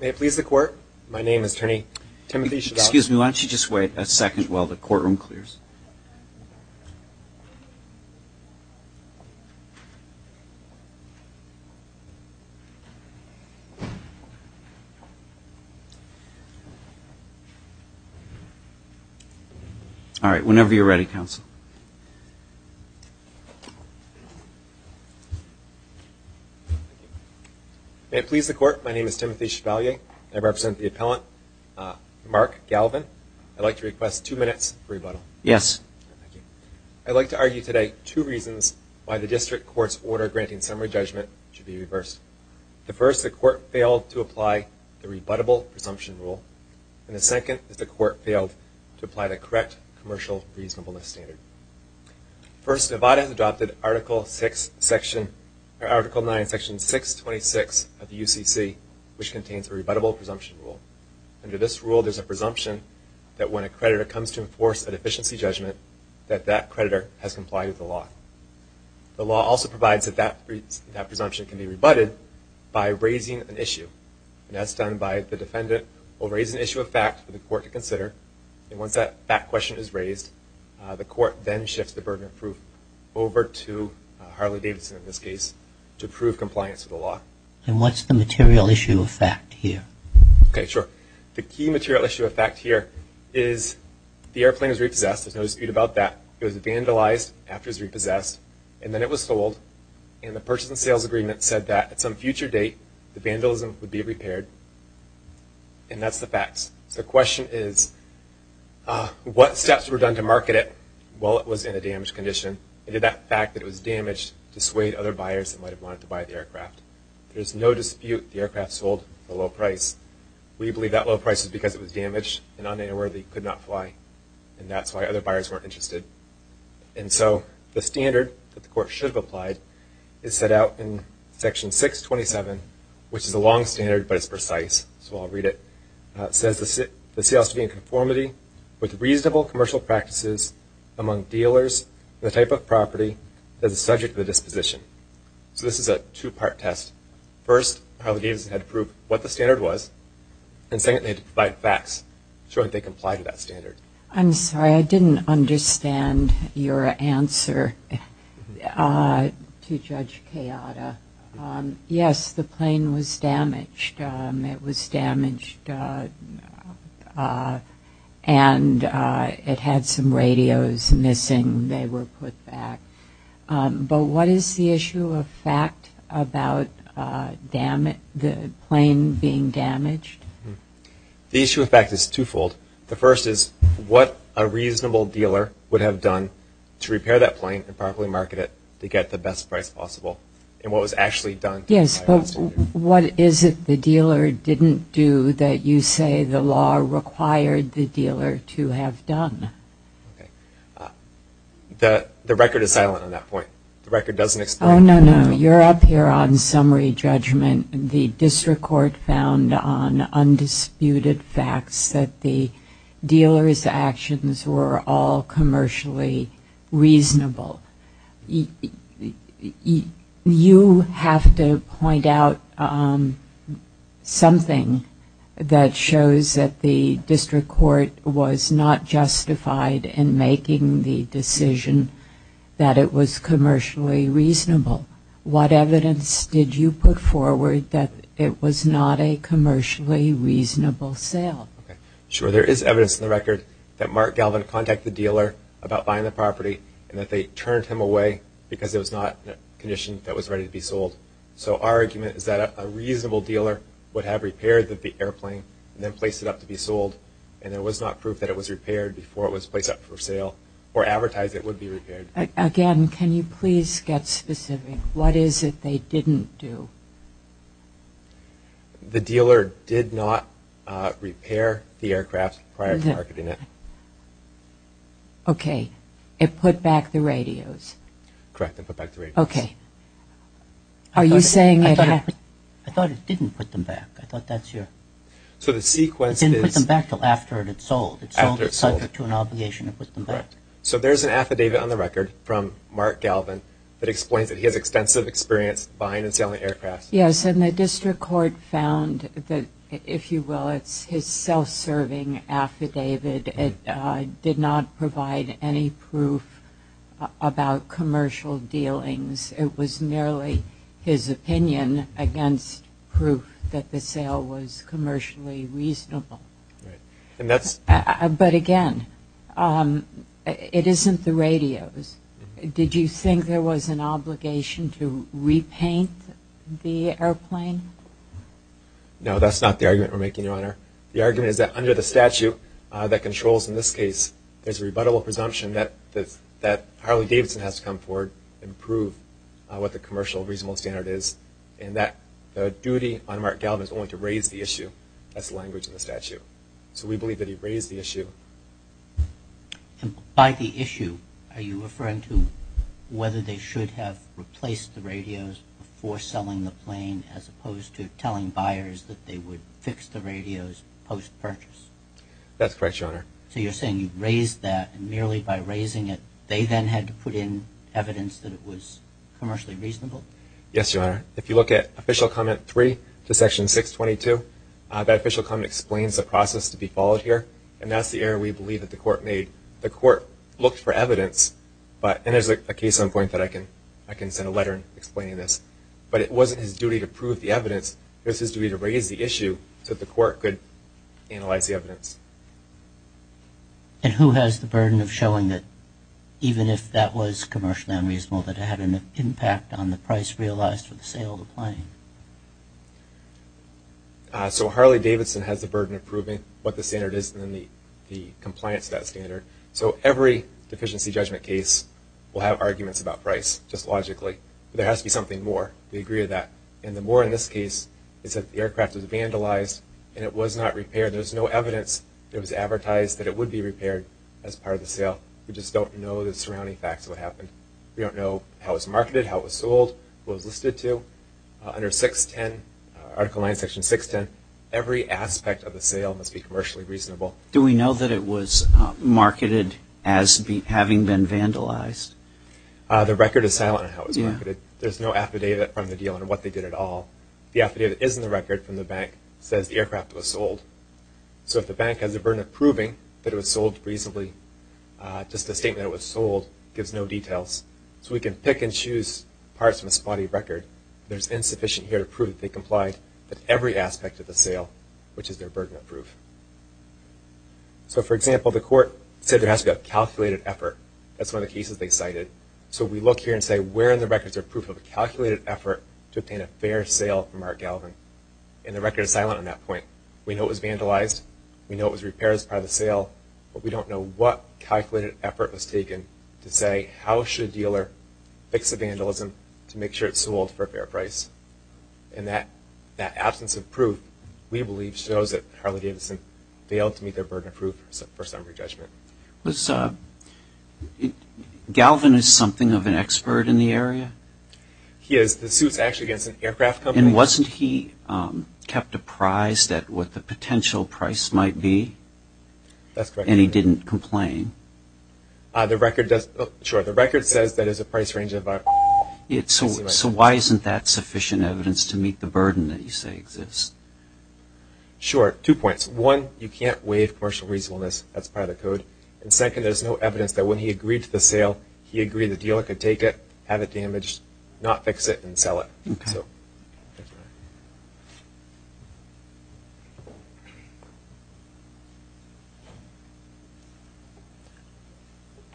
May it please the Court, my name is Attorney Timothy Chagall. May it please the Court, my name is Timothy Chagall, and I represent the appellant Mark Galvin. I'd like to request two minutes for rebuttal. Yes. I'd like to argue today two reasons why the District Court's order granting summary judgment should be reversed. The first, the Court failed to apply the rebuttable presumption rule, and the second is the Court failed to apply the correct commercial reasonableness standard. First, Nevada has adopted Article 6, Section, or Article 9, Section 626 of the UCC, which contains a rebuttable presumption rule. Under this rule, there's a presumption that when a creditor comes to enforce an efficiency judgment, that that creditor has complied with the law. The law also provides that that presumption can be rebutted by raising an issue, and that's done by the defendant will raise an issue of fact for the Court to consider, and once that fact question is raised, the Court then shifts the burden of proof over to Harley-Davidson, in this case, to prove compliance with the law. And what's the material issue of fact here? Okay, sure. The key material issue of fact here is the airplane is repossessed. There's no dispute about that. It was vandalized after it was repossessed, and then it was sold, and the purchase and sales agreement said that at some future date, the vandalism would be repaired, and that's the facts. So the question is, what steps were done to market it while it was in a damaged condition, and did that fact that it was damaged dissuade other buyers that might dispute the aircraft sold for a low price? We believe that low price is because it was damaged and un-airworthy, could not fly, and that's why other buyers weren't interested. And so the standard that the Court should have applied is set out in Section 627, which is a long standard, but it's precise, so I'll read it. It says the sales should be in conformity with reasonable commercial practices among dealers, the type of property, and the subject of the disposition. So this is a two-part test. First, Harlan Davis had to prove what the standard was, and second, they had to provide facts showing they complied with that standard. I'm sorry, I didn't understand your answer to Judge Kayada. Yes, the were put back. But what is the issue of fact about the plane being damaged? The issue of fact is twofold. The first is what a reasonable dealer would have done to repair that plane and properly market it to get the best price possible, and what was actually done. Yes, but what is it the the record is silent on that point. The record doesn't explain. Oh, no, no, you're up here on summary judgment. The District Court found on undisputed facts that the dealer's actions were all commercially reasonable. You have to point out something that shows that the District Court was not justified in making the decision that it was commercially reasonable. What evidence did you put forward that it was not a commercially reasonable sale? Sure, there is evidence in the record that Mark Galvin contacted the dealer about buying the property and that they turned him away because it was not in a condition that was ready to be sold. So our argument is that a reasonable dealer would have repaired the airplane and then placed it up to be sold, and there was not proof that it was repaired before it was placed up for sale or advertised it would be repaired. Again, can you please get specific? What is it they didn't do? The dealer did not repair the aircraft prior to marketing it. Okay, it put back the radios. Correct, they put back the radios. Okay, are you saying it happened? I thought it didn't put them back. I thought that's your... So the sequence is... It didn't put them back till after it had sold. It sold it to an obligation. So there's an affidavit on the record from Mark Galvin that explains that he has extensive experience buying and selling aircraft. Yes, and the District Court found that, if you will, it's his self-serving affidavit. It did not provide any proof about commercial dealings. It was merely his opinion against proof that the sale was commercially reasonable. Right, and that's... But again, it isn't the radios. Did you think there was an obligation to repaint the airplane? No, that's not the argument we're making, Your Honor. The argument is that under the statute that controls, in this case, there's a rebuttable presumption that Harley-Davidson has to come forward and prove what the commercial reasonable standard is, and that the duty on Mark Galvin is only to raise the issue. That's the language in the statute. So we believe that he raised the issue. And by the issue, are you referring to whether they should have replaced the radios for selling the plane as opposed to telling buyers that they would fix the radios post-purchase? That's correct, Your Honor. So you're saying you raised that, and merely by raising it, they then had to put in evidence that it was commercially reasonable? Yes, Your Honor. If you look at Official Comment 3, Section 622, that Official Comment explains the process to be followed here, and that's the error we believe that the Court made. The Court looked for evidence, but... And there's a case on point that I can send a letter explaining this. But it wasn't his duty to prove the evidence. It was his duty to raise the issue so that the Court could analyze the evidence. And who has the burden of showing that even if that was commercially unreasonable, that it had an impact on the price realized for the sale of the plane? So Harley-Davidson has the burden of proving what the standard is and the compliance of that standard. So every deficiency judgment case will have arguments about price, just logically. There has to be something more. We agree to that. And the more in this case is that the aircraft was vandalized and it was not repaired. There's no evidence that it was advertised that it would be repaired as part of the sale. We just don't know the surrounding facts of what happened. We don't know how it was marketed, how it was sold, who it was listed to. Under 610, Article 9, Section 610, every aspect of the sale must be commercially reasonable. Do we know that it was marketed as having been vandalized? The record is silent on how it was marketed. There's no affidavit from the dealer on what they did at all. The affidavit that is in the record from the bank says the aircraft was sold. So if the bank has a burden of proving that it was sold reasonably, just a statement that it was sold gives no details. So we can pick and choose parts from a spotty record. There's insufficient here to prove that they complied with every aspect of the sale, which is their burden of proof. So for example, the court said there has to be a calculated effort. That's one of the cases they cited. So we look here and say where in the records are proof of a calculated effort to obtain a fair sale from Art Galvin? And the record is silent on that point. We know it was vandalized. We know it was repaired as part of the sale. But we don't know what calculated effort was taken to say how should a dealer fix a vandalism to make sure it's sold for a fair price? And that absence of proof, we believe, shows that Harley-Davidson failed to meet their burden of proof for summary judgment. Was, uh, Galvin is something of an expert in the area? He is. The suit's actually against an aircraft company. Wasn't he, um, kept apprised at what the potential price might be? That's correct. And he didn't complain? Uh, the record does, uh, sure. The record says that it's a price range of about... So why isn't that sufficient evidence to meet the burden that you say exists? Sure. Two points. One, you can't waive commercial reasonableness. That's part of the code. And second, there's no evidence that when he agreed to the sale, he agreed the dealer could take it, have it damaged, not fix it and sell it. Okay.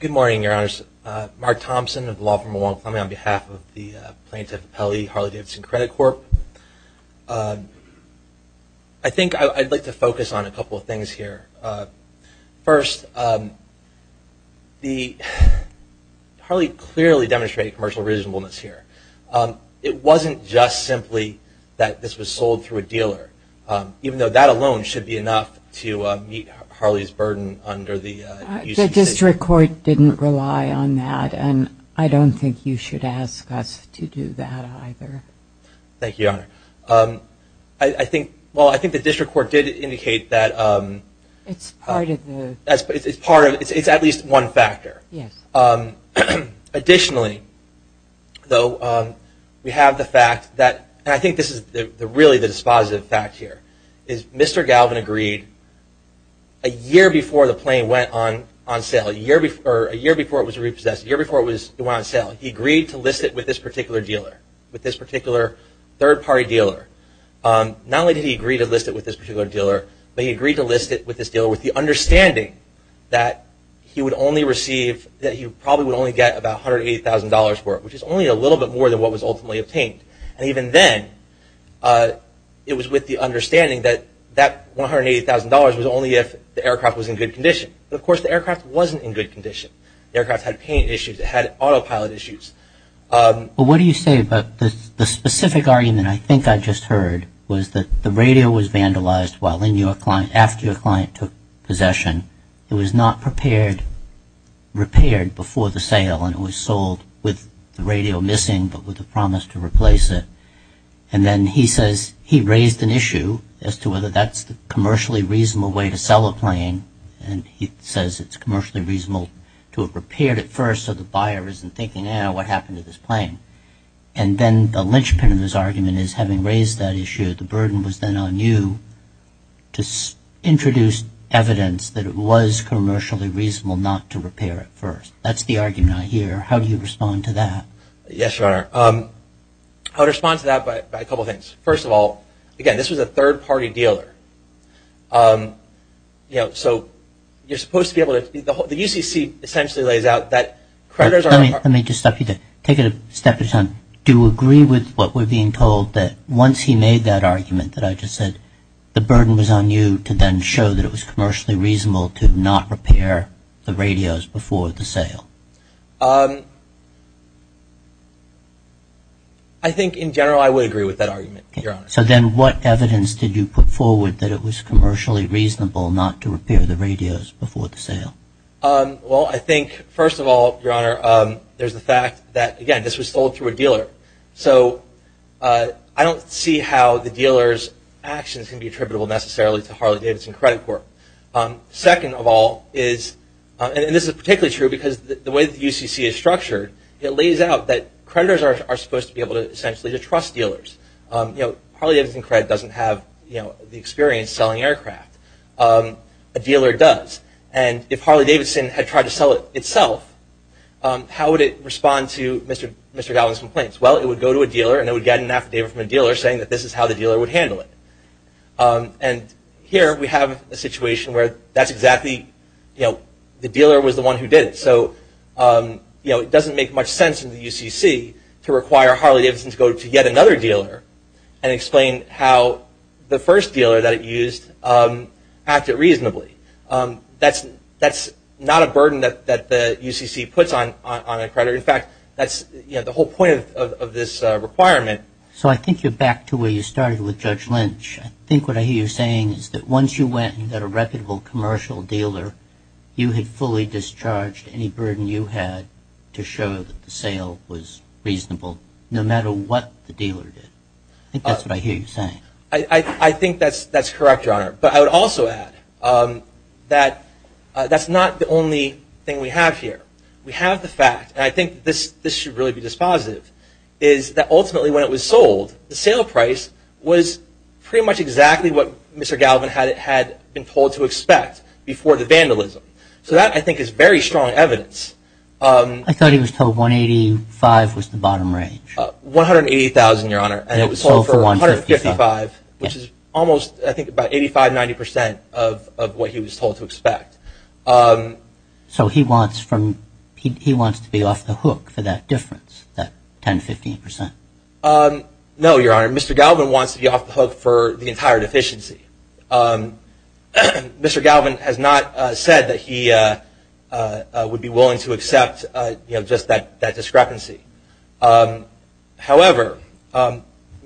Good morning, Your Honors. Mark Thompson of the Law Firm of Montgomery on behalf of the Plaintiff Appellee Harley-Davidson Credit Corp. Um, I think I'd like to focus on a couple of things here. Uh, first, um, the, Harley clearly demonstrated commercial reasonableness here. Um, it wasn't just simply that this was sold through a dealer. Um, even though that alone should be enough to, um, meet Harley's burden under the, uh, use of the city. The district court didn't rely on that and I don't think you should ask us to do that either. Thank you, Your Honor. Um, I, I think, well, I think the district court did indicate that, um. It's part of the. It's part of, it's at least one factor. Yes. Um, additionally, though, um, we have the fact that, and I think this is the, really the dispositive fact here, is Mr. Galvin agreed a year before the plane went on, on sale, a year before, a year before it was repossessed, a year before it was, it went on sale. He agreed to list it with this particular dealer, with this particular third party dealer. Um, not only did he agree to list it with this particular dealer, but he agreed to list it with this dealer with the understanding that he would only receive, that he probably would only get about $180,000 for it, which is only a little bit more than what was ultimately obtained. And even then, uh, it was with the understanding that, that $180,000 was only if the aircraft was in good condition. But of course the aircraft wasn't in good condition. The aircraft had paint issues, it had autopilot issues. Um, but what do you say about the, the specific argument I think I just heard, was that the radio was vandalized while in your client, after your client took possession. It was not prepared, repaired before the sale and it was sold with the radio missing, but with a promise to replace it. And then he says, he raised an issue as to whether that's the commercially reasonable way to sell a plane. And he says it's commercially reasonable to have repaired it first, so the buyer isn't thinking, eh, what happened to this plane? And then the linchpin of his argument is, having raised that issue, the burden was then on you to introduce evidence that it was commercially reasonable not to repair it first. That's the argument I hear. How do you respond to that? Yes, Your Honor. Um, I would respond to that by, by a couple of things. First of all, again, this was a third-party dealer. Um, you know, so, you're supposed to be able to, the whole, the UCC essentially lays out that creditors are- Let me, let me just stop you there. Take it a step at a time. Do you agree with what we're being told that once he made that argument that I just said, the burden was on you to then show that it was commercially reasonable to not repair the radios before the sale? Um, I think in general I would agree with that argument, Your Honor. So then what evidence did you put forward that it was commercially reasonable not to repair the radios before the sale? Um, well, I think, first of all, Your Honor, um, there's the fact that, again, this was sold through a dealer. So, uh, I don't see how the dealer's actions can be attributable necessarily to Harley-Davidson Credit Corp. Um, second of all is, and this is particularly true because the way the UCC is structured, it lays out that creditors are supposed to be able to, essentially, to trust dealers. Um, you know, Harley-Davidson Credit doesn't have, you know, the experience selling aircraft. Um, a dealer does. And if Harley-Davidson had tried to sell it itself, um, how would it respond to Mr. Gallagher's complaints? Well, it would go to a dealer and it would get an affidavit from a dealer saying that this is how the dealer would handle it. Um, and here we have a situation where that's exactly, you know, the dealer was the one who did it. So, um, you know, it doesn't make much sense in the UCC to require Harley-Davidson to go to yet another dealer and explain how the first dealer that it used, um, acted reasonably. Um, that's not a burden that the UCC puts on a creditor. In fact, that's, you know, the whole point of this requirement. So, I think you're back to where you started with Judge Lynch. I think what I hear you saying is that once you went and got a reputable commercial dealer, you had fully discharged any burden you had to show that the sale was reasonable. No matter what the dealer did. I think that's what I hear you saying. I think that's correct, Your Honor. But I would also add, um, that that's not the only thing we have here. We have the fact, and I think this should really be dispositive, is that ultimately when it was sold, the sale price was pretty much exactly what Mr. Gallagher had been told to expect before the vandalism. So that, I think, is very strong evidence. I thought he was told $185,000 was the bottom range. $180,000, Your Honor, and it was sold for $155,000, which is almost, I think, about 85-90% of what he was told to expect. So he wants to be off the hook for that difference, that 10-15%? No, Your Honor. Mr. Galvin wants to be off the hook for the entire deficiency. Um, Mr. Galvin has not said that he would be willing to accept just that discrepancy. However,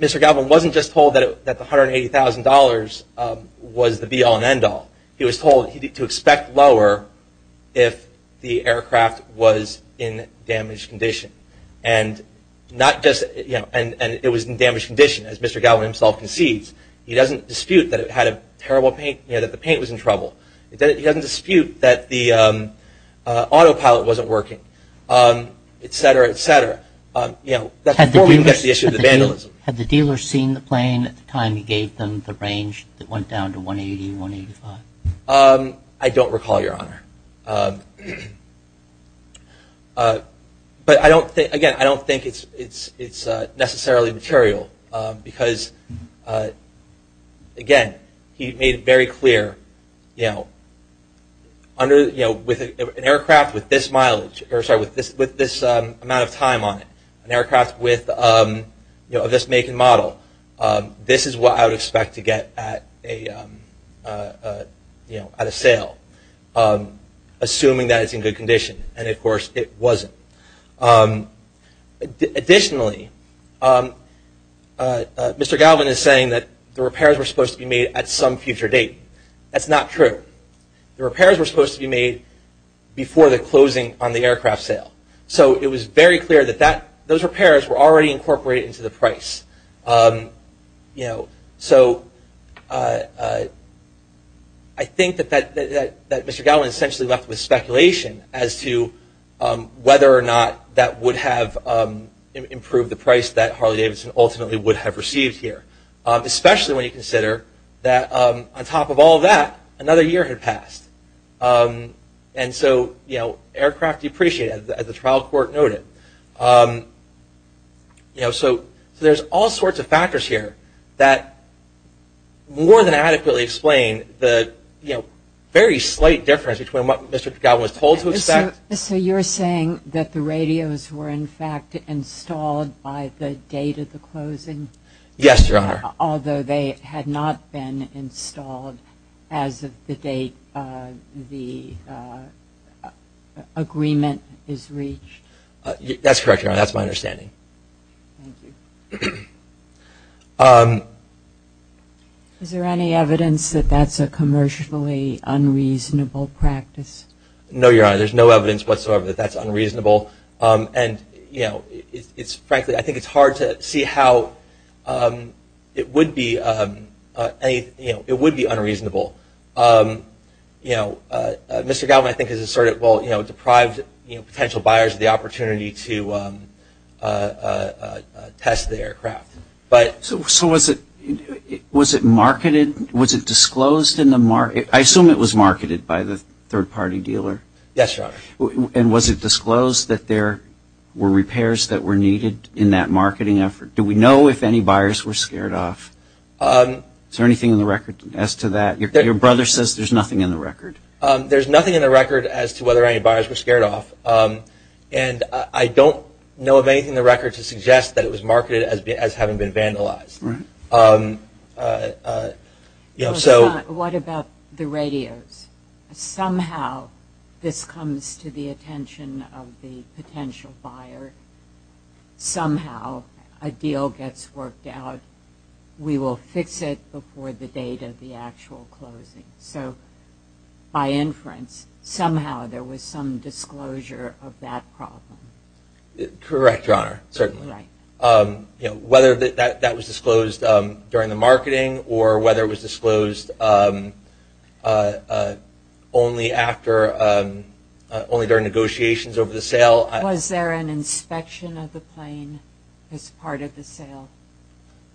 Mr. Galvin wasn't just told that the $180,000 was the be-all and end-all. He was told to expect lower if the aircraft was in damaged condition. And not just, you know, and it was in damaged condition, as Mr. Galvin himself concedes. He doesn't dispute that it had a terrible paint, you know, that the paint was in trouble. He doesn't dispute that the autopilot wasn't working, et cetera, et cetera. You know, that's before we even get to the issue of the vandalism. Had the dealer seen the plane at the time you gave them the range that went down to $180,000, $185,000? I don't recall, Your Honor. But I don't think, again, I don't think it's necessarily material. Because, again, he made it very clear, you know, with an aircraft with this mileage, or sorry, with this amount of time on it, an aircraft with, you know, this make and model, this is what I would expect to get at a, you know, at a sale. Assuming that it's in good condition. And, of course, it wasn't. Additionally, Mr. Galvin is saying that the repairs were supposed to be made at some future date. That's not true. The repairs were supposed to be made before the closing on the aircraft sale. So it was very clear that those repairs were already incorporated into the price. You know, so I think that Mr. Galvin essentially left with speculation as to whether or not that would have improved the price that Harley-Davidson ultimately would have received here. Especially when you consider that on top of all that, another year had passed. And so, you know, aircraft depreciated, as the trial court noted. You know, so there's all sorts of factors here that more than adequately explain the, you know, very slight difference between what Mr. Galvin was told to expect. So you're saying that the radios were, in fact, installed by the date of the closing? Yes, Your Honor. Although they had not been installed as of the date the agreement is reached? That's correct, Your Honor. That's my understanding. Thank you. Is there any evidence that that's a commercially unreasonable practice? No, Your Honor. There's no evidence whatsoever that that's unreasonable. And, you know, frankly, I think it's hard to see how it would be unreasonable. You know, Mr. Galvin, I think, has asserted, well, you know, deprived potential buyers of the opportunity to test the aircraft. So was it marketed? Was it disclosed in the market? I assume it was marketed by the third-party dealer? Yes, Your Honor. And was it disclosed that there were repairs that were needed in that marketing effort? Do we know if any buyers were scared off? Is there anything in the record as to that? Your brother says there's nothing in the record. There's nothing in the record as to whether any buyers were scared off. And I don't know of anything in the record to suggest that it was marketed as having been vandalized. You know, so... What about the radios? Somehow this comes to the attention of the potential buyer. Somehow a deal gets worked out. We will fix it before the date of the actual closing. So by inference, somehow there was some disclosure of that problem. Correct, Your Honor, certainly. Right. You know, whether that was disclosed during the marketing or whether it was disclosed only during negotiations over the sale. Was there an inspection of the plane as part of the sale?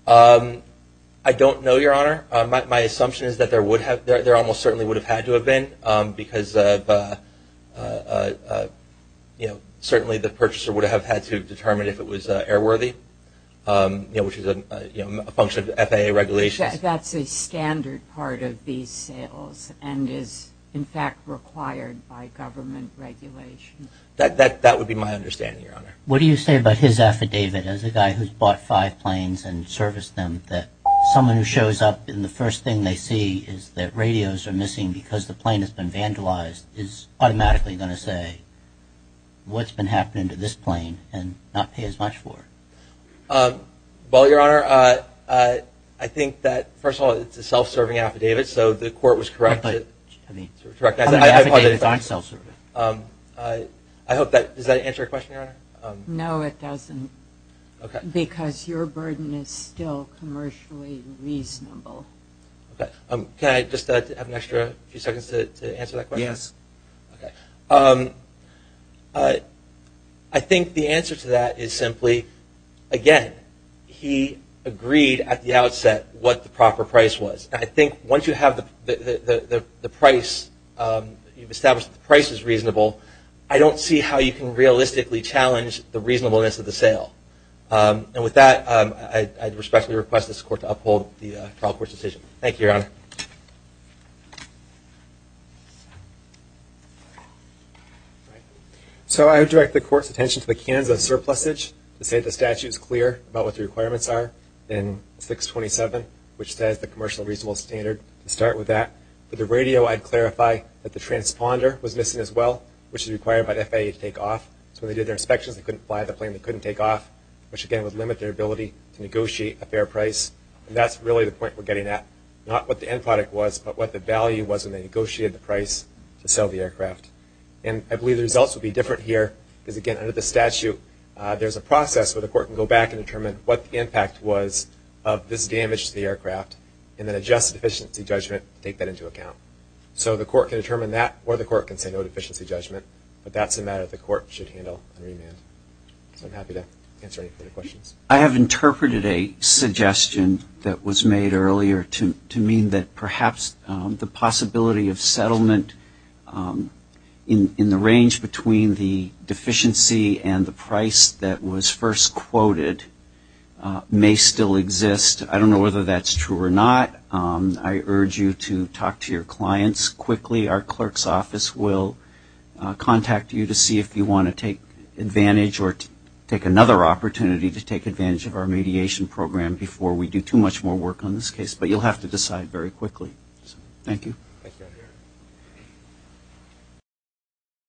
I don't know, Your Honor. My assumption is that there almost certainly would have had to have been because certainly the purchaser would have had to determine if it was airworthy, you know, which is a function of FAA regulations. That's a standard part of these sales and is in fact required by government regulations. That would be my understanding, Your Honor. What do you say about his affidavit as a guy who's bought five planes and serviced them that someone who shows up and the first thing they see is that radios are missing because the plane has been vandalized is automatically going to say what's been happening to this plane and not pay as much for it? Well, Your Honor, I think that, first of all, it's a self-serving affidavit, so the court was correct. Affidavits aren't self-serving. I hope that, does that answer your question, Your Honor? No, it doesn't because your burden is still commercially reasonable. Okay, can I just have an extra few seconds to answer that question? Yes. Okay, I think the answer to that is simply, again, he agreed at the outset what the proper price was. I think once you have the price, you've established the price is reasonable, I don't see how you can realistically challenge the reasonableness of the sale. And with that, I respectfully request this court to uphold the trial court's decision. Thank you, Your Honor. All right, so I would direct the court's attention to the Kansas surplusage to say the statute is clear about what the requirements are in 627, which says the commercial reasonable standard to start with that. For the radio, I'd clarify that the transponder was missing as well, which is required by the FAA to take off. So when they did their inspections, they couldn't fly the plane, they couldn't take off, which again would limit their ability to negotiate a fair price. And that's really the point we're getting at, not what the end product was, but what the value was when they negotiated the price to sell the aircraft. And I believe the results will be different here, because again, under the statute, there's a process where the court can go back and determine what the impact was of this damage to the aircraft, and then adjust the deficiency judgment to take that into account. So the court can determine that, or the court can say no deficiency judgment, but that's a matter the court should handle on remand. So I'm happy to answer any further questions. I have interpreted a suggestion that was made earlier to mean that perhaps the possibility of settlement in the range between the deficiency and the price that was first quoted may still exist. I don't know whether that's true or not. I urge you to talk to your clients quickly. Our clerk's office will contact you to see if you want to take advantage or take another opportunity to take advantage of our mediation program before we do too much more work on this case. But you'll have to decide very quickly. So thank you.